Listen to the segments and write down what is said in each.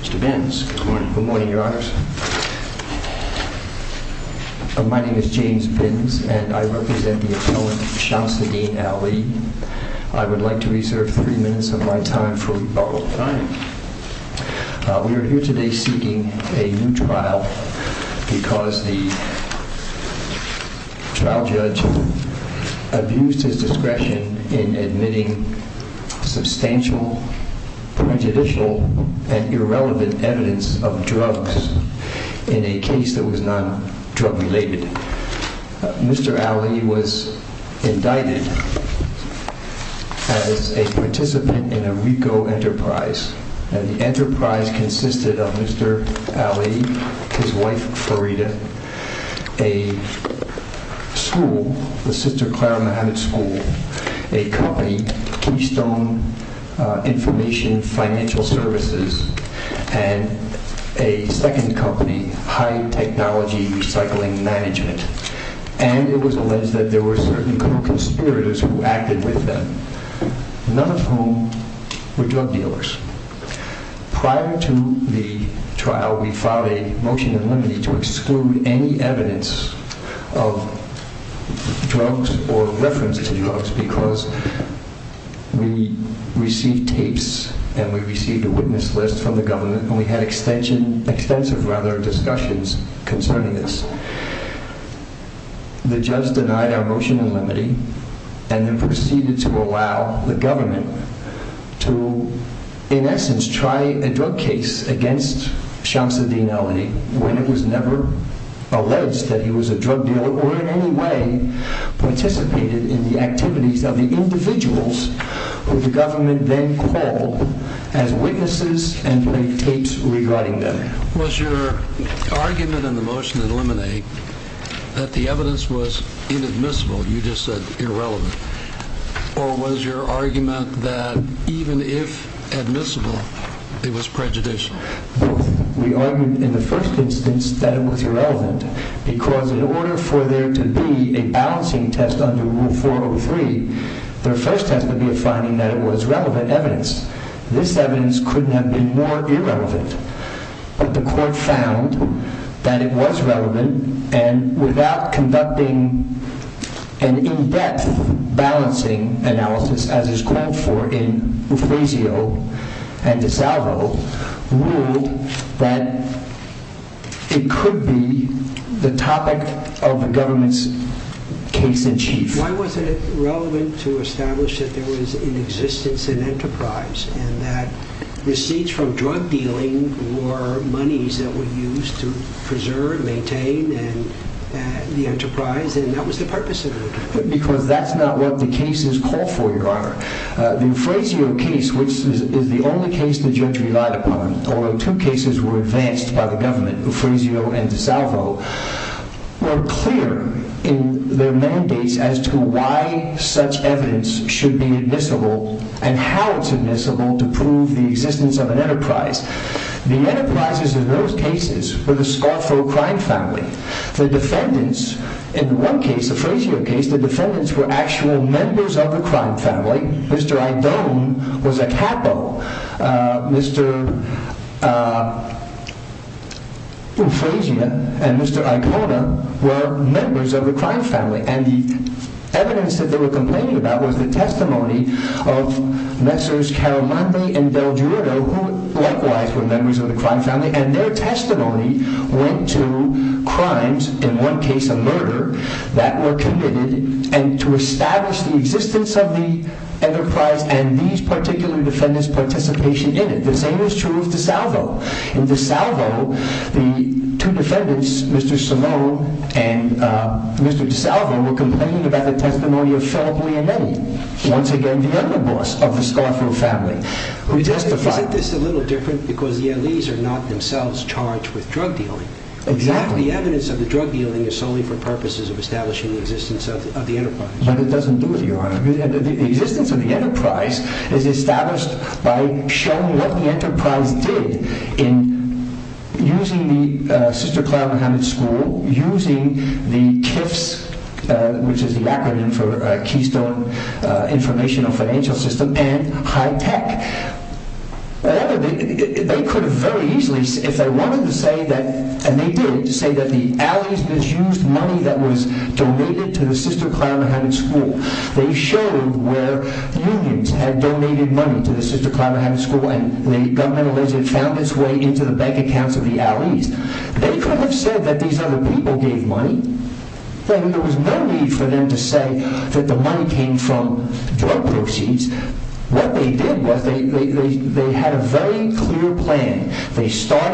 Mr. Bins, good morning. Good morning, your honors. My name is James Bins, and I represent the appellant, Shamsuddin Ali. I would like to reserve three minutes of my time for rebuttal. Fine. We are here today seeking a new trial because the trial judge abused his discretion in admitting substantial, prejudicial, and irrelevant evidence of drugs in a case that was non-drug related. Mr. Ali was indicted as a participant in a RICO enterprise, and the enterprise consisted of Mr. Ali, his wife Farida, a school, the Sister Clara Muhammad School, a company, Keystone Information Financial Services, and a second company, Hyde Technology Recycling Management, and it was alleged that there were certain co-conspirators who acted with them, none of whom were drug dealers. Prior to the trial, we filed a motion in limine to exclude any evidence of drugs or reference to drugs because we received tapes and we received a witness list from the government, and we had extensive discussions concerning this. The judge denied our motion in limine, and then proceeded to allow the government to, in essence, try a drug case against Shams Al-Din Ali when it was never alleged that he was a drug dealer or in any way participated in the activities of the individuals who the government then called as witnesses and played tapes regarding them. Was your argument in the motion in limine that the evidence was inadmissible, you just said irrelevant, or was your argument that even if admissible, it was prejudicial? We argued in the first instance that it was irrelevant because in order for there to be a balancing test under Rule 403, there first has to be a finding that it was relevant evidence. This evidence couldn't have been more irrelevant, but the court found that it was relevant, and without conducting an in-depth balancing analysis, as is called for in Ruflesio and DiSalvo, ruled that it could be the topic of the government's case-in-chief. Why wasn't it relevant to establish that there was an existence and enterprise, and that receipts from drug dealing were monies that were used to preserve and maintain the enterprise, and that was the purpose of it? Because that's not what the cases call for, Your Honor. The Ruflesio case, which is the only case the judge relied upon, although two cases were advanced by the government, Ruflesio and DiSalvo, were clear in their mandates as to why such evidence should be admissible and how it's admissible to prove the existence of an enterprise. The enterprises in those cases were the Scarfo crime family. The defendants in one case, the Ruflesio case, the defendants were actual members of the crime family. Mr. Idone was a capo. Mr. Ufresia and Mr. Icona were members of the crime family, and the evidence that they were complaining about was the testimony of Messrs. Caramante and Del Girido, who likewise were members of the crime family, and their testimony went to crimes, in one case a murder, that were committed, and to establish the existence of the enterprise and these particular defendants' participation in it. The same is true of DiSalvo. In DiSalvo, the two defendants, Mr. Salone and Mr. DiSalvo, were complaining about the testimony of Felipe Leonetti, once again the charged with drug dealing. Exactly. The evidence of the drug dealing is solely for purposes of establishing the existence of the enterprise. But it doesn't do it, Your Honor. The existence of the enterprise is established by showing what the enterprise did in using the Sister Clara Mohammed School, using the KIFS, which is the acronym for Keystone Informational System, and high tech. They could have very easily, if they wanted to say that, and they did, say that the Allies misused money that was donated to the Sister Clara Mohammed School. They showed where unions had donated money to the Sister Clara Mohammed School, and the government allegedly found its way into the bank accounts of the Allies. They could have said that these other people gave money, then there was no need for them to say that the Allies misused money. But in any event, it is not the case. The fact that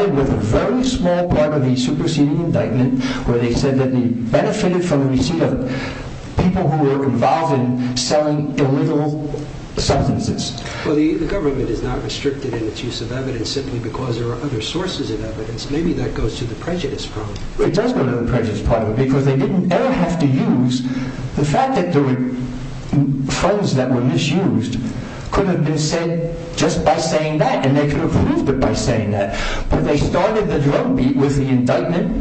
the government is not restricted in its use of evidence, simply because there are other sources of evidence, maybe that goes to the prejudice part. It does go to the prejudice part, because they didn't ever have to use the fact that there were funds that were misused, could have been said just by saying that, and they could have proved it by saying that. But they started the drug beat with the indictment,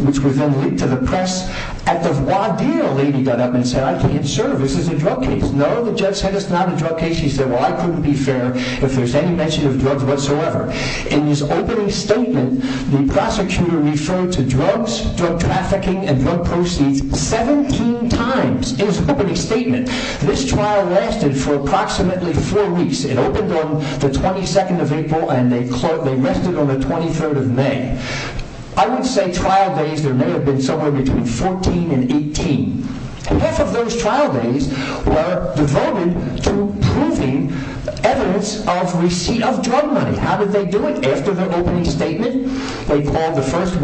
which was then leaked to the press. At the voir dire, a lady got up and said, I can't serve, this is a drug case. No, the judge said it's not a drug case. She said, well, I couldn't be fair if there's any mention of drugs whatsoever. In his opening statement, the prosecutor referred to drugs, drug trafficking and drug proceeds 17 times. It was an opening statement. This trial lasted for approximately four weeks. It opened on the 22nd of April and they rested on the 23rd of May. I would say trial days, there may have been somewhere between 14 and 18. Half of those trial days were devoted to proving evidence of receipt of drug money. How did they do it? After their trial, they asked them to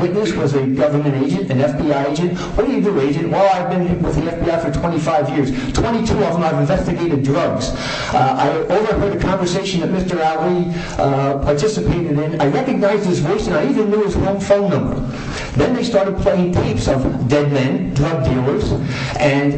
bring an agent, an FBI agent. What do you do, agent? Well, I've been with the FBI for 25 years. 22 of them I've investigated drugs. I overheard a conversation that Mr. Ali participated in. I recognized his voice and I even knew his home phone number. Then they started playing tapes of dead men, drug dealers, and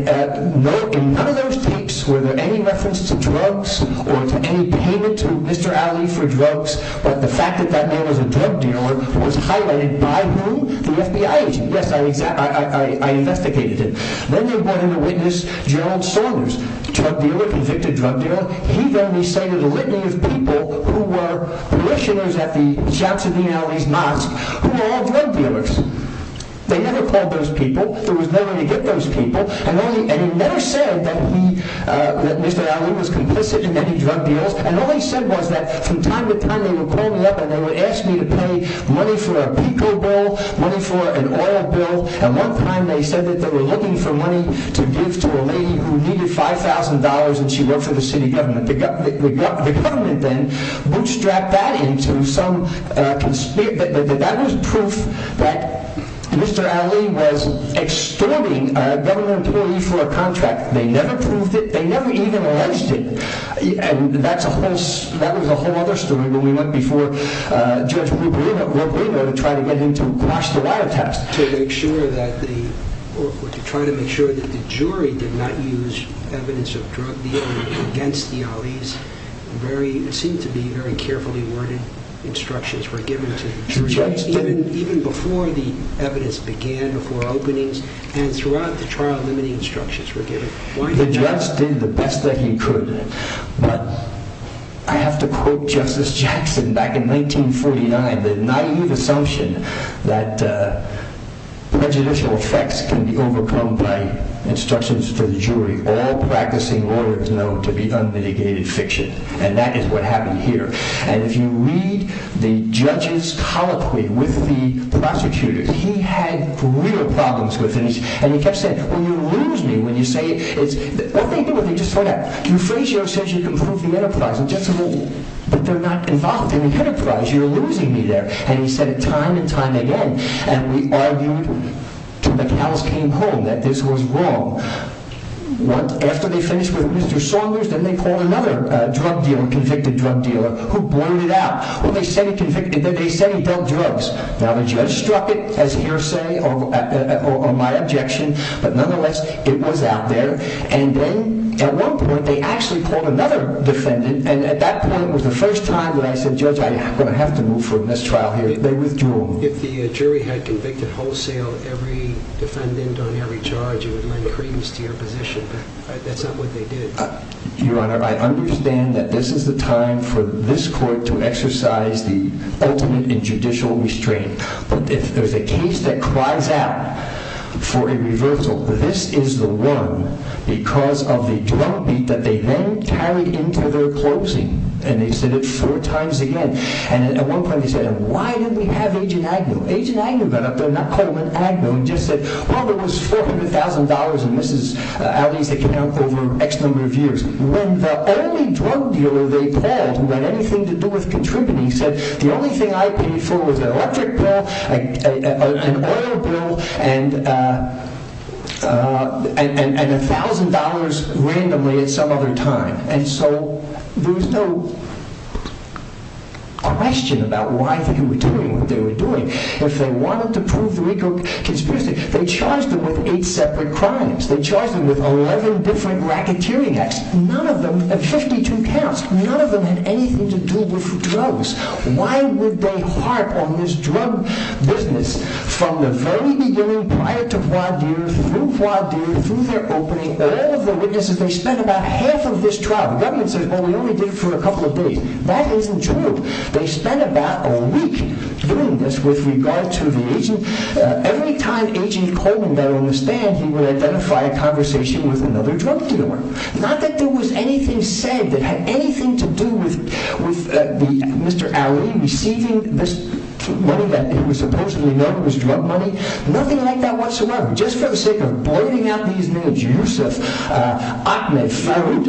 in none of those tapes were there any references to drugs or to any payment to Mr. Ali for drugs, but the fact that that man was a drug dealer was highlighted by whom? The FBI agent. Yes, I investigated him. Then they brought in a witness, Gerald Saunders, drug dealer, convicted drug dealer. He then recited a litany of people who were parishioners at the Jackson and Ali's mosque who were all drug dealers. They never called those people. There was no way to get those people and he never said that Mr. Ali was complicit in any drug deals and all he said was that from time to time they would call me up and they would ask me to pay money for a pickle bowl, money for an oil bill, and one time they said that they were looking for money to give to a lady who needed $5,000 and she worked for the city government. The government then bootstrapped that into some conspiracy. That was proof that Mr. Ali was extorting a government employee for a contract. They never proved it. They never even alleged it. That was a whole other story when we went before Judge Wilberino to try to get him to quash the wiretaps. To try to make sure that the jury did not use evidence of drug dealing against the Ali's, it seemed to be very carefully worded instructions were given to the jury, even before the evidence began, before openings, and throughout the I have to quote Justice Jackson back in 1949, the naive assumption that prejudicial effects can be overcome by instructions for the jury. All practicing lawyers know to be unmitigated fiction and that is what happened here. And if you read the judge's colloquy with the you can prove the enterprise. But they're not involved in the enterprise. You're losing me there. And he said it time and time again. And we argued until the cows came home that this was wrong. After they finished with Mr. Saunders, then they called another drug dealer, convicted drug dealer, who blurted it out. They said he dealt drugs. Now the judge struck it as hearsay or my objection. But nonetheless, it was out there. And then at one point, they actually called another defendant. And at that point was the first time that I said, Judge, I'm going to have to move from this trial here. They withdrew. If the jury had convicted wholesale, every defendant on every charge, you would lend credence to your position. But that's not what they did. Your Honor, I understand that this is the time for this judicial restraint. But if there's a case that cries out for a reversal, this is the one because of the drug beat that they then carried into their closing. And they said it four times again. And at one point, they said, why didn't we have Agent Agnew? Agent Agnew got up there and not call him an agno and just said, well, there was $400,000 in Mrs. Aldi's account over X number of years. When the only drug dealer they called who was the only thing I paid for was an electric bill, an oil bill, and $1,000 randomly at some other time. And so there was no question about why they were doing what they were doing. If they wanted to prove the RICO conspiracy, they charged them with eight separate crimes. They charged them with 11 different racketeering acts. None of them had 52 counts. None of them had anything to do with drugs. Why would they harp on this drug business? From the very beginning, prior to Poitiers, through Poitiers, through their opening, all of the witnesses, they spent about half of this trial. The government says, well, we only did it for a couple of days. That isn't true. They spent about a week doing this with regard to the agent. Every time Agent Coleman got on the stand, he would identify a conversation with another drug dealer. Not that there was anything said that had anything to do with Mr. Aldi receiving this money that he was supposedly known as drug money. Nothing like that whatsoever. Just for the sake of blading out these names, Yusuf, Ahmed, Farouk.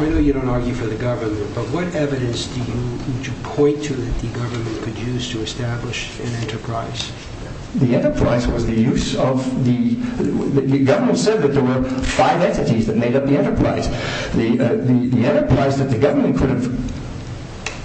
I know you don't argue for the government, but what evidence would you point to that the government could use to establish an enterprise? The enterprise was the use of, the government said that there were five entities that made up the enterprise. The enterprise that the government could have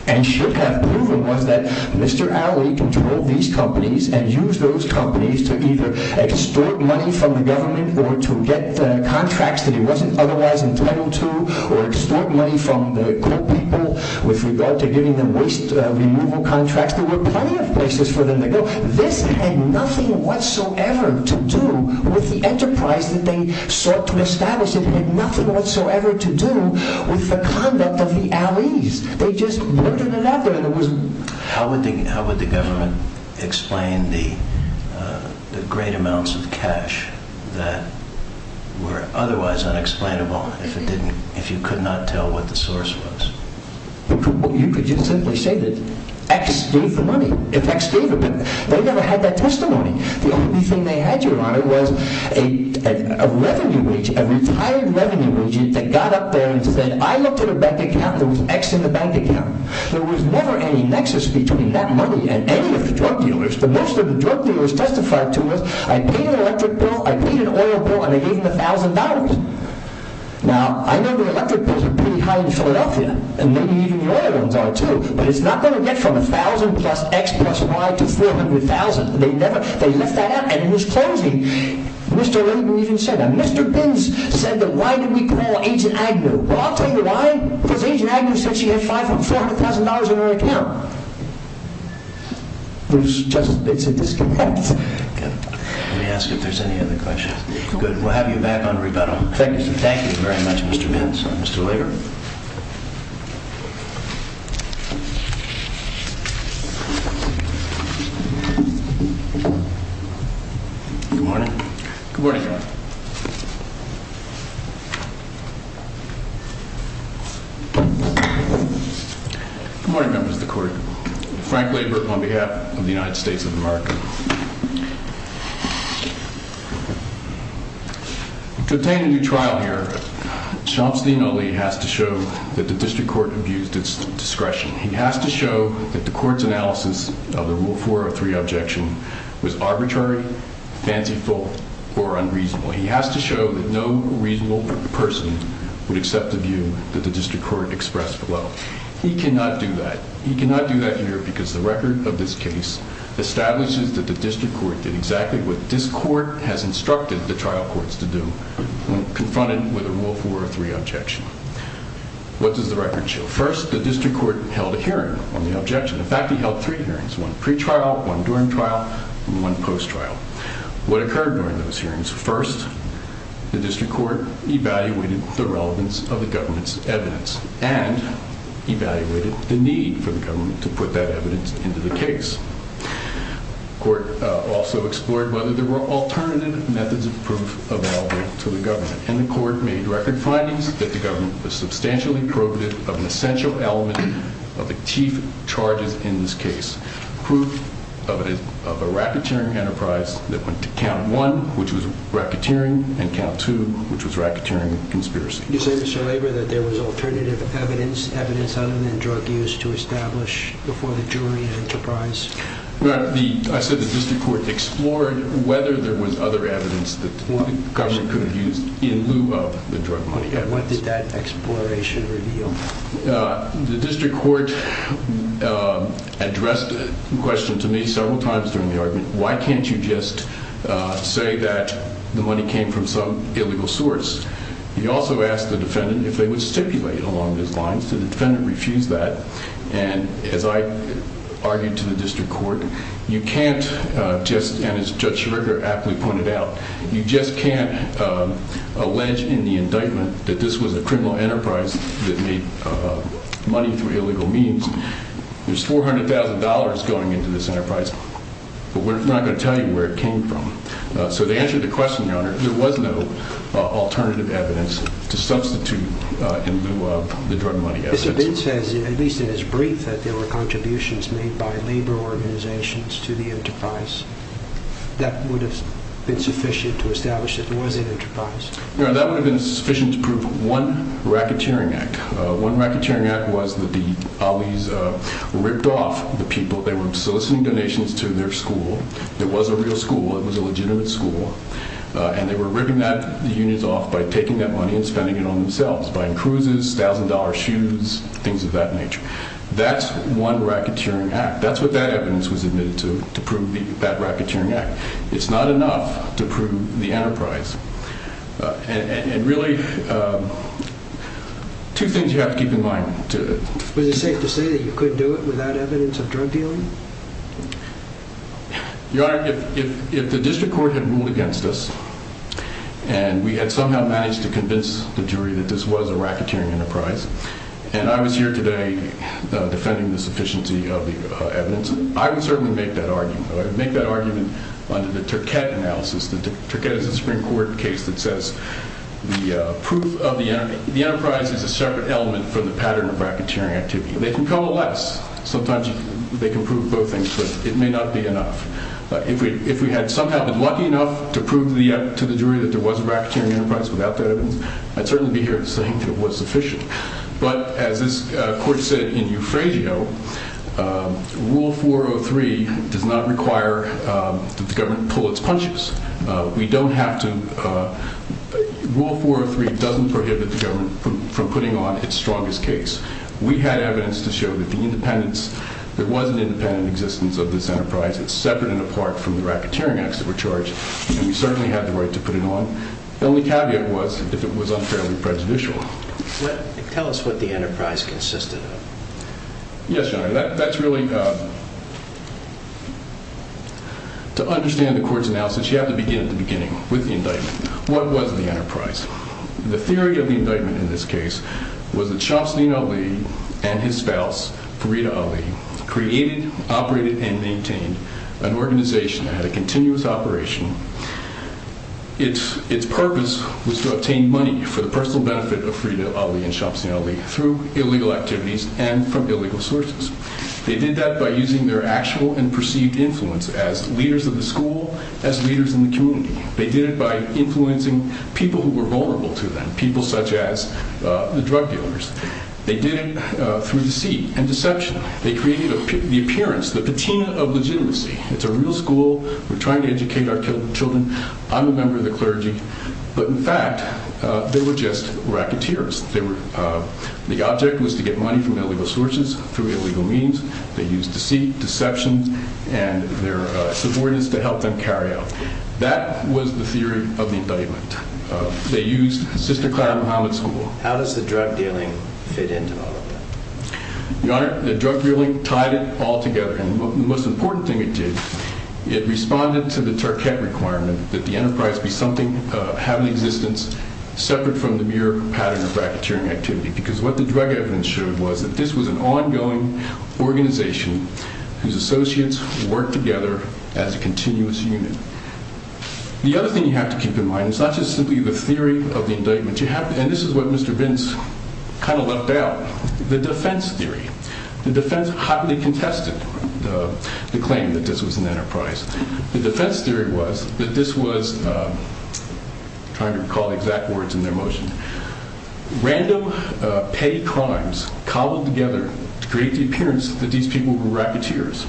and should have proven was that Mr. Aldi controlled these companies and used those companies to either extort money from the government or to get contracts that he wasn't otherwise entitled to or extort money from the coal people with regard to giving them waste removal contracts. There were plenty of places for them to go. This had nothing whatsoever to do with the enterprise that they sought to establish. It had nothing whatsoever to do with the conduct of the Ali's. They just blurted it out there. How would the government explain the great amounts of cash that were otherwise unexplainable if you could not tell what the source was? You could just simply say that X gave the money. If X gave it, they never had that testimony. The only thing they had, Your Honor, was a revenue wage, a retired revenue wage that got up there and said, I looked at a bank account and there was X in the bank account. There was never any nexus between that money and any of the drug dealers. The most of the drug dealers testified to was, I paid an electric bill, I paid an oil bill, and I gave them a thousand dollars. Now, I know the electric bills are pretty high in Philadelphia, and maybe even the oil ones are too, but it's not going to get from a thousand plus X plus Y to 400,000. They left that out and it was closing. Mr. Rabin even said that. Mr. Binns said that why did we call Agent Agnew? Well, I'll tell you why. Because Agent Agnew said she had $400,000 in her account. It's just, it's a disconnect. Let me ask if there's any other questions. Good. We'll have you back on rebuttal. Thank you. Thank you very much, Mr. Binns. Mr. Lieber. Good morning. Good morning, Your Honor. Good morning, members of the court. Frank Lieber, on behalf of the United States of America. To obtain a new trial here, Shams Al-Ali has to show that the district court abused its discretion. He has to show that the court's analysis of the Rule 403 objection was arbitrary, fanciful, or unreasonable. He has to show that no reasonable person would accept the view that the district court expressed below. He cannot do that. He cannot do that here because the record of this case establishes that the district court did exactly what this court has instructed the trial courts to do when confronted with a Rule 403 objection. What does the record show? First, the district court held a hearing on the objection. In fact, he held three hearings, one pre-trial, one during trial, and one post-trial. What occurred during those hearings? First, the district court evaluated the relevance of the government's evidence and evaluated the need for the government to put that evidence into the case. The court also explored whether there were alternative methods of proof available to the government, and the court made record findings that the government was substantially probative of an essential element of the chief charges in this case. Proof of a racketeering enterprise that went to count one, which was racketeering, and count two, which was racketeering conspiracy. You say, Mr. Labor, that there was alternative evidence, evidence other than drug use, to establish before the jury enterprise? I said the district court explored whether there was other evidence that the government could have used in lieu of the drug money evidence. What did that exploration reveal? The district court addressed the question to me several times during the argument, why can't you just say that the money came from some illegal source? He also asked the defendant if they would stipulate along those lines. The defendant refused that, and as I argued to the district court, you can't just, and as Judge Schroeder aptly pointed out, you just can't allege in the indictment that this was a criminal enterprise that made money through illegal means. There's $400,000 going into this enterprise, but we're not going to tell you where it came from. So they answered the question, Your Honor, there was no alternative evidence to substitute in lieu of the drug money evidence. Mr. Bitz says, at least in his brief, that there were contributions made by labor organizations to the enterprise. That would have been sufficient to establish that there was an enterprise. No, that would have been sufficient to prove one racketeering act. One racketeering act was that the Ollies ripped off the people. They were soliciting donations to their school. It was a real school. It was a legitimate school, and they were ripping that, the unions off by taking that money and spending it on themselves, buying cruises, $1,000 shoes, things of that nature. That's one racketeering act. That's what that evidence was admitted to, to prove that racketeering act. It's not enough to prove the enterprise. And really, two things you have to keep in mind. Was it safe to say you could do it without evidence of drug dealing? Your Honor, if the district court had ruled against us, and we had somehow managed to convince the jury that this was a racketeering enterprise, and I was here today defending the sufficiency of the evidence, I would certainly make that argument. I would make that argument under the Turquette analysis. The Turquette is a Supreme Court case that says the proof of the enterprise is a separate element from the pattern of racketeering activity. They can coalesce. Sometimes they can prove both things, but it may not be enough. If we had somehow been lucky enough to prove to the jury that there was a racketeering enterprise without that evidence, I'd certainly be here saying that it was sufficient. But as this court said in Euphragio, Rule 403 does not require that the government pull its punches. We don't have to, Rule 403 doesn't prohibit the government from putting on its strongest case. We had evidence to show that the independence, there was an independent existence of this enterprise. It's separate and apart from the racketeering acts that were charged, and we certainly had the right to put it on. The only caveat was that it was unfairly prejudicial. Tell us what the enterprise consisted of. Yes, Your Honor, that's really, to understand the court's analysis, you have to begin at the end of the indictment. What was the enterprise? The theory of the indictment in this case was that Shams Al-Ali and his spouse, Farida Ali, created, operated, and maintained an organization that had a continuous operation. Its purpose was to obtain money for the personal benefit of Farida Ali and Shams Al-Ali through illegal activities and from illegal sources. They did that by using their actual and perceived influence as leaders of the school, as leaders in the community. They did it by influencing people who were vulnerable to them, people such as the drug dealers. They did it through deceit and deception. They created the appearance, the patina of legitimacy. It's a real school. We're trying to educate our children. I'm a member of the clergy. But in fact, they were just racketeers. The object was to get money from illegal sources through illegal means. They used deceit, deception, and their influence. That was the theory of the indictment. They used Sister Clara Muhammad School. How does the drug dealing fit into all of that? Your Honor, the drug dealing tied it all together. And the most important thing it did, it responded to the Turkett requirement that the enterprise be something, have an existence separate from the mere pattern of racketeering activity. Because what the drug evidence showed was that this was an ongoing organization whose associates worked together as a continuous unit. The other thing you have to keep in mind is not just simply the theory of the indictment. You have to, and this is what Mr. Vince kind of left out, the defense theory. The defense hotly contested the claim that this was an enterprise. The defense theory was that this was, trying to recall the exact words in their motion, random paid crimes cobbled together to create the appearance that these people were racketeers.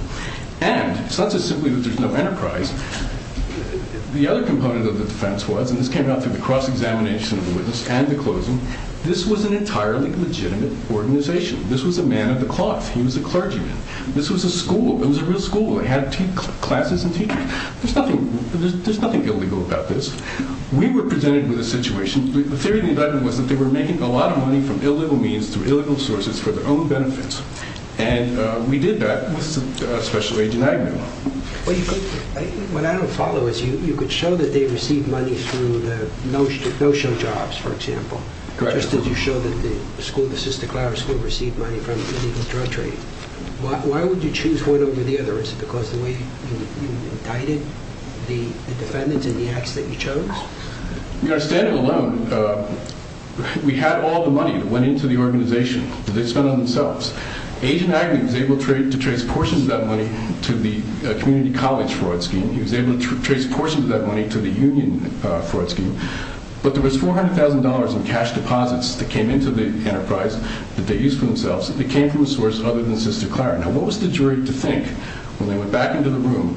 And it's not just simply that there's no enterprise. The other component of the defense was, and this came out through the cross-examination of the witness and the closing, this was an entirely legitimate organization. This was a man of the cloth. He was a clergyman. This was a school. It was a real school. It had classes and teachers. There's nothing illegal about this. We were presented with a situation. The theory of the indictment was that they were making a lot of money from illegal means through illegal sources for their own benefits. And we did that with a special agent I knew. Well, what I don't follow is you could show that they received money through the no-show jobs, for example. Just as you showed that the school, the Sister Clowder School, received money from illegal drug trade, why would you choose one over the others? Is it because of the way you indicted the defendants in the acts that you chose? You understand it alone. We had all the money that went into the organization that they spent on themselves. Agent Agnew was able to trace portions of that money to the community college fraud scheme. He was able to trace portions of that money to the union fraud scheme. But there was $400,000 in cash deposits that came into the enterprise that they used for themselves that came from a source other than Sister Clowder. Now, what was the jury to think when they went back into the room?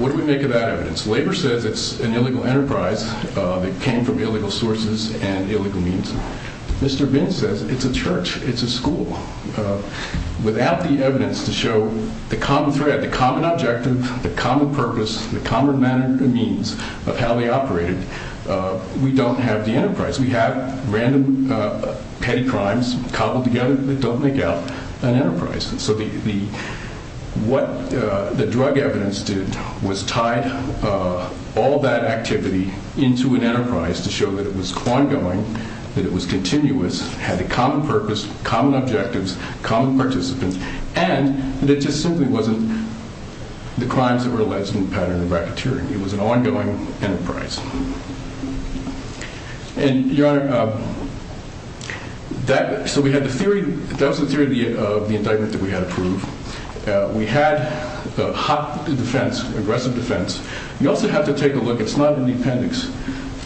What do we make of that evidence? Labor says it's an illegal enterprise. It came from illegal sources and illegal means. Mr. Bin says it's a church. It's a school. Without the evidence to show the common thread, the common objective, the common purpose, the common manner and means of how they operated, we don't have the enterprise. We have random petty crimes cobbled together that don't make out an enterprise. And so what the drug evidence did was tied all that activity into an enterprise to show that it was ongoing, that it was continuous, had a common purpose, common objectives, common participants, and that it just simply wasn't the crimes that were alleged in the pattern of racketeering. It was an ongoing enterprise. And, Your Honor, that, so we had the theory, that was the theory of the indictment that we had approved. We had the hot defense, aggressive defense. You also have to take a look, it's not in the appendix,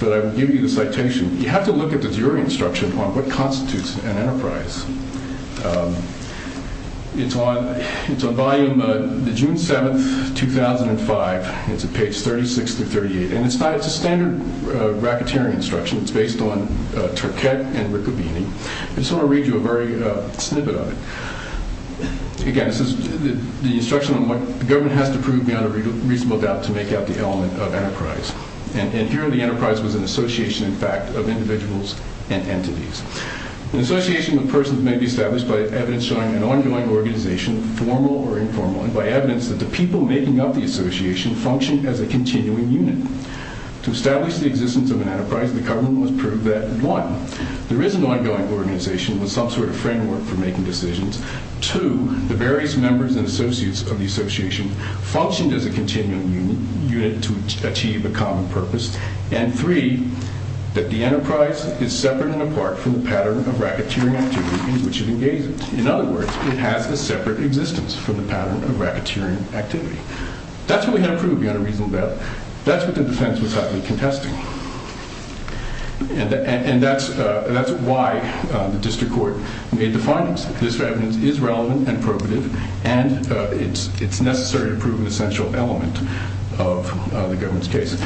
but I will give you the citation. You have to look at the jury instruction on what constitutes an enterprise. It's on, it's on volume, the June 7th, 2005. It's on page 36 through 38. And it's not, it's a standard racketeering instruction. It's based on Turquette and Riccobini. I just want to read you a very snippet of it. Again, it says, the instruction on what the government has to prove beyond a reasonable doubt to make out the element of enterprise. And here the enterprise was an association, in fact, of individuals and entities. An association of persons may be established by evidence showing an ongoing organization, formal or informal, and by evidence that the people making up the association functioned as a continuing unit. To establish the existence of an enterprise, the government must prove that, one, there is an ongoing organization with some sort of framework for making decisions. Two, the various members and associates of the association functioned as a continuing unit to achieve a common purpose. And three, that the enterprise is separate and apart from the pattern of racketeering activity in which it engages. In other words, it has a separate existence from the pattern of racketeering activity. That's what we have to prove beyond a reasonable doubt. That's what the defense was hotly contesting. And that's why the district court made the findings. This evidence is relevant and appropriate, and it's necessary to prove an essential element of the government's case.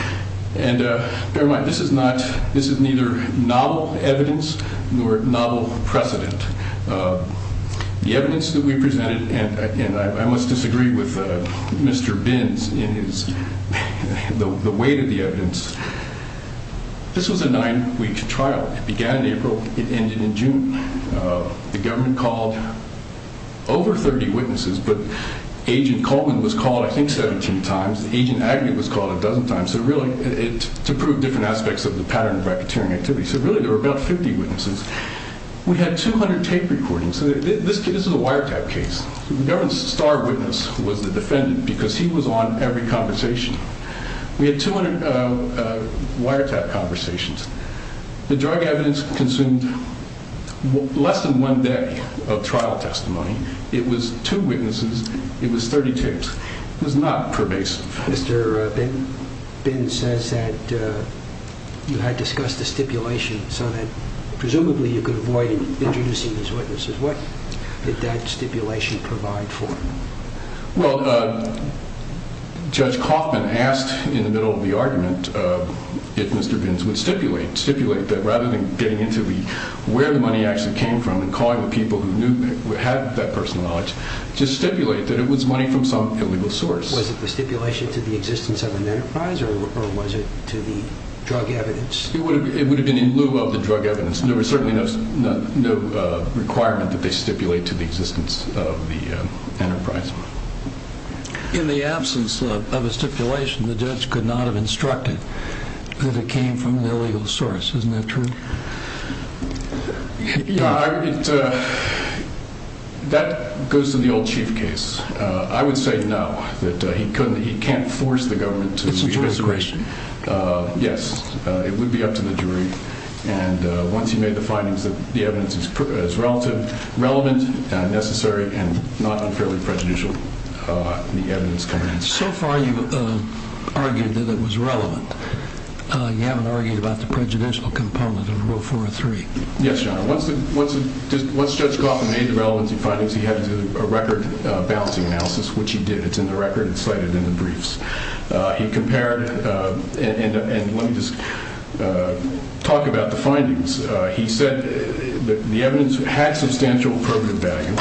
And bear in mind, this is not, this is neither novel evidence nor novel precedent. The evidence that we presented, and I must disagree with Mr. Binns in his, the weight of the evidence, this was a nine-week trial. It began in April. It ended in June. The government called over 30 witnesses, but Agent Coleman was called, I think, 17 times. Agent Agnew was called a dozen times. So really, to prove different aspects of the pattern of racketeering activity. So really, there were about 50 witnesses. We had 200 tape recordings. This is a wiretap case. The government's star witness was the defendant because he was on every conversation. We had 200 wiretap conversations. The drug evidence consumed less than one day of trial testimony. It was two witnesses. It was 30 tapes. It was not pervasive. Mr. Binns says that you had discussed a stipulation so that presumably you could avoid introducing these witnesses. What did that stipulation provide for? Well, Judge Coffman asked in the middle of the argument if Mr. Binns would stipulate, stipulate that rather than getting into the, where the money actually came from and calling the people who knew, had that personal knowledge, just stipulate that it was money from some illegal source. Was it the stipulation to the existence of an enterprise or was it to the drug evidence? It would have been in lieu of the drug evidence. There was certainly no requirement that they stipulate to the existence of the enterprise. In the absence of a stipulation, the judge could not have instructed that it came from an illegal source. Isn't that true? Yeah, that goes to the old chief case. I would say no, that he couldn't, he can't force the government to investigate. It's a jury's decision. Yes, it would be up to the jury. And once he made the findings that the evidence is relative, relevant, necessary, and not unfairly prejudicial, the evidence comes in. So far you've argued that it was relevant. You haven't argued about the prejudicial component of Rule 403. Yes, Your Honor. Once Judge Gauffin made the relevancy findings, he had to do a record balancing analysis, which he did. It's in the record, it's cited in the briefs. He compared and let me just talk about the findings. He said that the evidence had substantial appropriate value.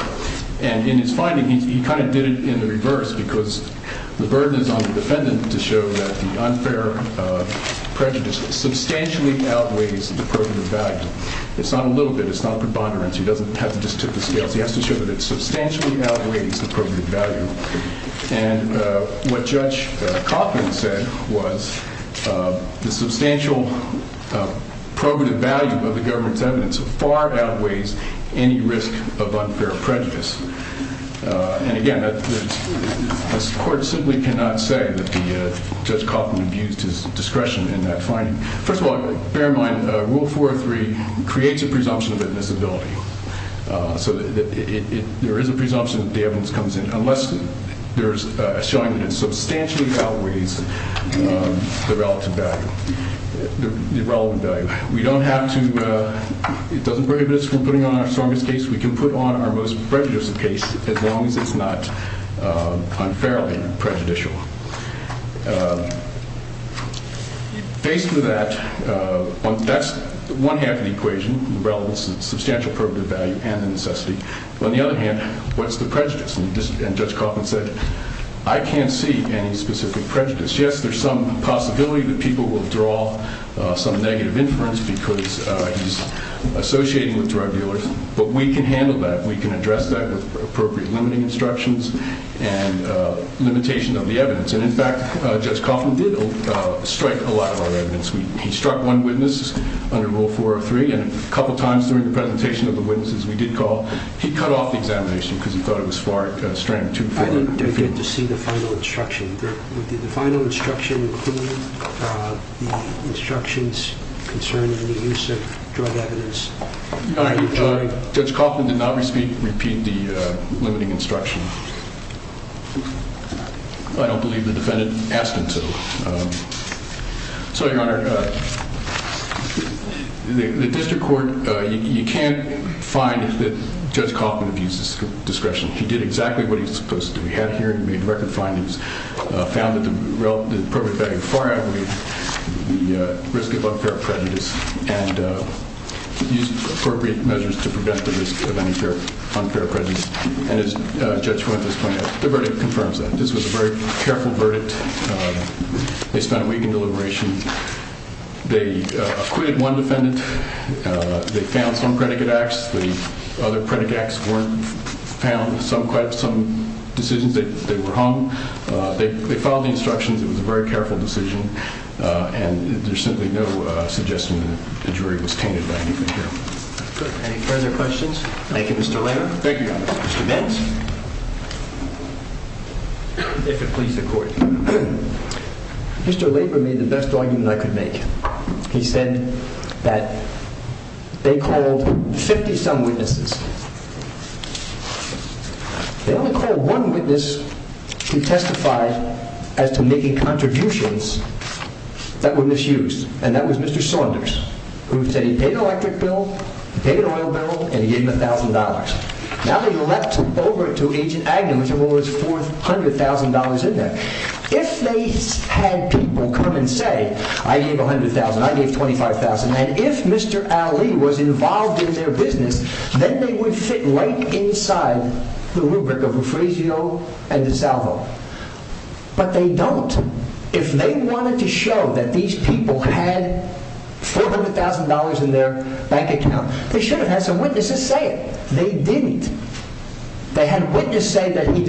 And in his finding, he kind of did it in the reverse because the burden is on the defendant to show that the unfair prejudice substantially outweighs the appropriate value. It's not a little bit, it's not a preponderance. He doesn't have to just tip the scales. He has to show that it substantially outweighs the appropriate value. And what Judge Gauffin said was the substantial probative value of the government's evidence far outweighs any risk of unfair prejudice. And again, the court simply cannot say that Judge Gauffin abused his discretion in that finding. First of all, bear in mind, Rule 403 creates a presumption of admissibility. So there is a presumption that the evidence comes in unless there's a showing that it substantially outweighs the relative value, the relevant value. We don't have to, it doesn't prohibit us from putting on our strongest case. We can put on our most prejudiced case as long as it's not unfairly prejudicial. Faced with that, that's one half of the equation, the relevance of the substantial probative value and the necessity. On the other hand, what's the prejudice? And Judge Gauffin said, I can't see any specific prejudice. Yes, there's some possibility that people will draw some negative inference because he's associating with drug dealers, but we can handle that. We can address that with appropriate limiting instructions and limitation of the evidence. And in fact, Judge Gauffin did strike a lot of our evidence. He struck one witness under Rule 403 and a couple of times during the presentation of the witnesses we did call, he cut off the examination because he thought it was far, strained too far. I didn't get to see the final instruction. Did the final instruction include the instructions concerning the use of drug evidence? Your Honor, Judge Gauffin did not repeat the limiting instruction. I don't believe the defendant asked him to. So, Your Honor, the district court, you can't find that Judge Gauffin abused his discretion. He did exactly what he's supposed to. He had a hearing, made record findings, found that the probative value far outweighed the risk of unfair prejudice and used appropriate measures to prevent the risk of unfair prejudice. And as Judge Fuentes pointed out, the verdict confirms that. This was a very careful verdict. They spent a week in deliberation. They acquitted one defendant. They found some predicate acts. The other predicate acts weren't found. Some decisions, they were hung. They followed the instructions. It was a very careful decision. And there's simply no suggestion that the jury was tainted by anything here. Any further questions? Thank you, Mr. Laper. Thank you, Your Honor. Mr. Laper made the best argument I could make. He said that they called 50-some witnesses. They only called one witness to testify as to making contributions that were misused. And that was Mr. Saunders, who said he paid an electric bill, he paid an oil bill, and he gave him $1,000. Now that he leapt over to Agent Agnew, who has $400,000 in there, if they had people come and say, I gave $100,000, I gave $25,000, and if Mr. Ali was involved in their business, then they would fit right inside the rubric of refugio and dissolvo. But they don't. If they wanted to show that these people had $400,000 in their bank account, they should have had some witnesses say it. They didn't. They had witnesses say that he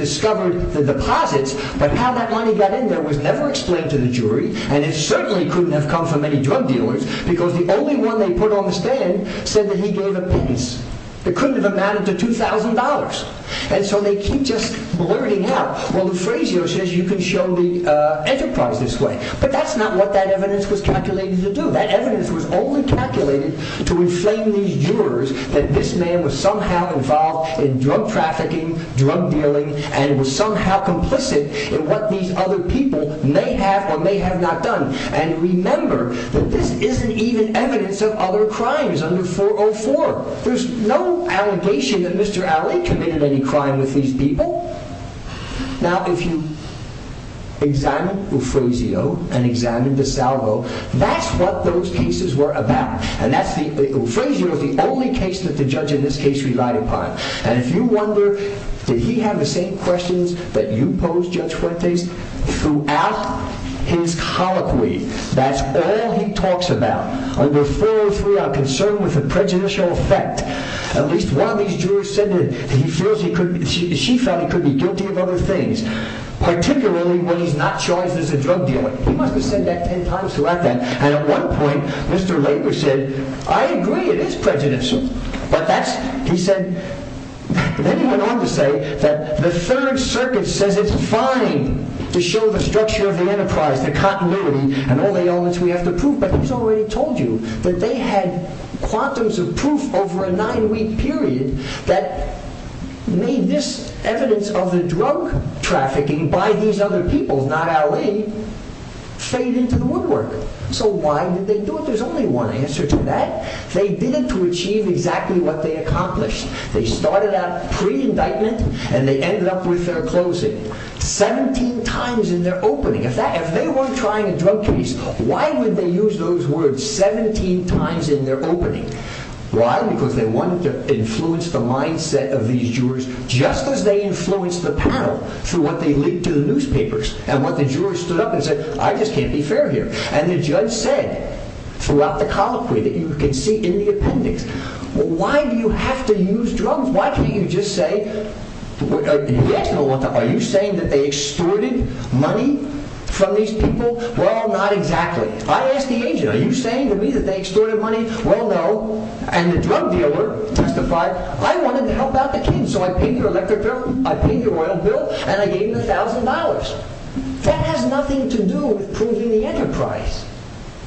got in there was never explained to the jury, and it certainly couldn't have come from any drug dealers, because the only one they put on the stand said that he gave a pittance. It couldn't have amounted to $2,000. And so they keep just blurting out, well, the phrase here says you can show the enterprise this way. But that's not what that evidence was calculated to do. That evidence was only calculated to inflame these jurors that this man was somehow involved in drug trafficking, drug dealing, and was somehow complicit in what these other people may have or may have not done. And remember that this isn't even evidence of other crimes under 404. There's no allegation that Mr. Ali committed any crime with these people. Now, if you examine Uffrazio and examine dissolvo, that's what those cases were about. And that's the, Uffrazio was the only case that the judge in this case relied upon. And if you wonder, did he have the same questions that you posed, Judge Fuentes, throughout his colloquy? That's all he talks about. Under 403, a concern with a prejudicial effect. At least one of these jurors said that he feels he could, she felt he could be guilty of other things, particularly when he's not charged as a drug dealer. He must have said that 10 times throughout that. And at one point, Mr. Lager said, I agree, it is prejudicial. But that's, he said, then he went on to say that the Third Circuit says it's fine to show the structure of the enterprise, the continuity, and all the elements we have to prove. But he's already told you that they had quantums of proof over a nine-week period that made this evidence of the drug trafficking by these other people, not Ali, fade into the woodwork. So why did they do it? There's only one answer to that. They did it to achieve exactly what they accomplished. They started out pre-indictment, and they ended up with their closing. 17 times in their opening. If that, if they weren't trying a drug case, why would they use those words 17 times in their opening? Why? Because they wanted to influence the mindset of these jurors, just as they influenced the panel through what they leaked to the newspapers. And what the jurors stood up and said, I just can't be fair here. And the judge said, throughout the colloquy that you can see in the appendix, why do you have to use drugs? Why can't you just say, are you saying that they extorted money from these people? Well, not exactly. I asked the agent, are you saying to me that they extorted money? Well, no. And the drug dealer testified, I wanted to help out the drug dealers. I said, well, it's $10,000. That has nothing to do with proving the enterprise.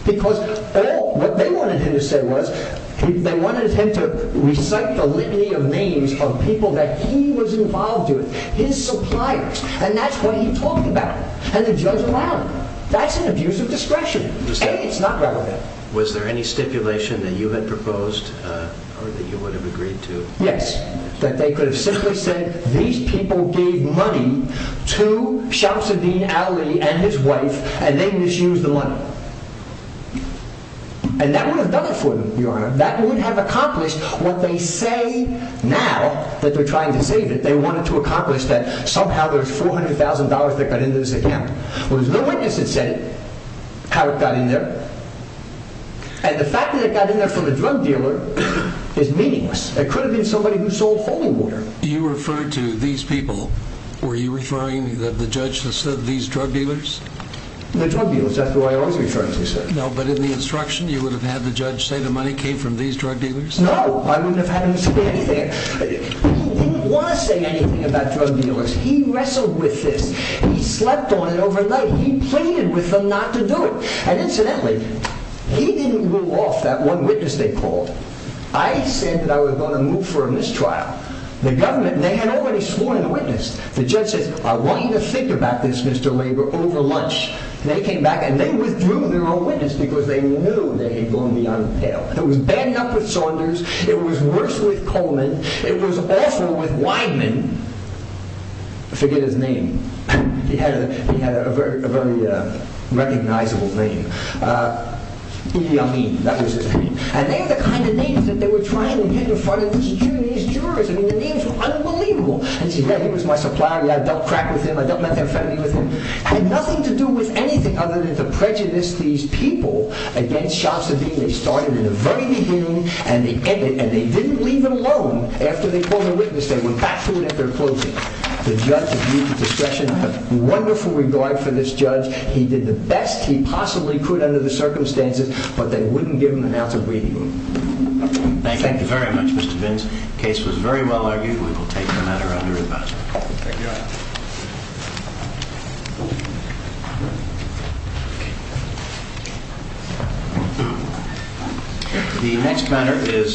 Because all what they wanted him to say was, they wanted him to recite the litany of names of people that he was involved with, his suppliers. And that's what he talked about. And the judge allowed it. That's an abuse of discretion. It's not relevant. Was there any stipulation that you had proposed or that you would have agreed to? Yes. That they could have simply said, these people gave money to Shamsuddin Ali and his wife, and they misused the money. And that would have done it for them, Your Honor. That would have accomplished what they say now that they're trying to save it. They wanted to accomplish that somehow there's $400,000 that got into this account. Well, there's no witness that said how it got in there. And the fact that it got in there from a drug dealer is meaningless. It could have been somebody who sold holy water. You referred to these people. Were you referring to the judge who said these drug dealers? The drug dealers, that's who I was referring to, sir. No, but in the instruction, you would have had the judge say the money came from these drug dealers? No, I wouldn't have had him say anything. He didn't want to say anything about drug dealers. He wrestled with this. He slept on it overnight. He pleaded with them not to do it. And incidentally, he didn't rule off that one witness they called. I said that I was going to move for a mistrial. The government, they had already sworn a witness. The judge says, I want you to think about this, Mr. Labor, over lunch. They came back and they withdrew their own witness because they knew they had gone beyond the pale. It was bad enough with Saunders. It was worse with Coleman. It was awful with Wideman. Forget his name. He had a very recognizable name. Iyamin, that was his name. And they had the kind of names that they were trying to get in front of these jurors. I mean, the names were unbelievable. And he said, yeah, he was my supplier. Yeah, I dealt crack with him. I dealt methamphetamine with him. It had nothing to do with anything other than to prejudice these people against Shamsuddin. They started at the very beginning and they ended, and they didn't leave him alone after they called the witness. They went back to it at their closing. The judge gave me the discretion. I have wonderful regard for this judge. He did the best he possibly could under the circumstances, but they wouldn't give him an ounce of redeeming. Thank you very much, Mr. Vins. The case was very well argued. We will take the matter under advisory. Thank you, Your Honor. The next matter is...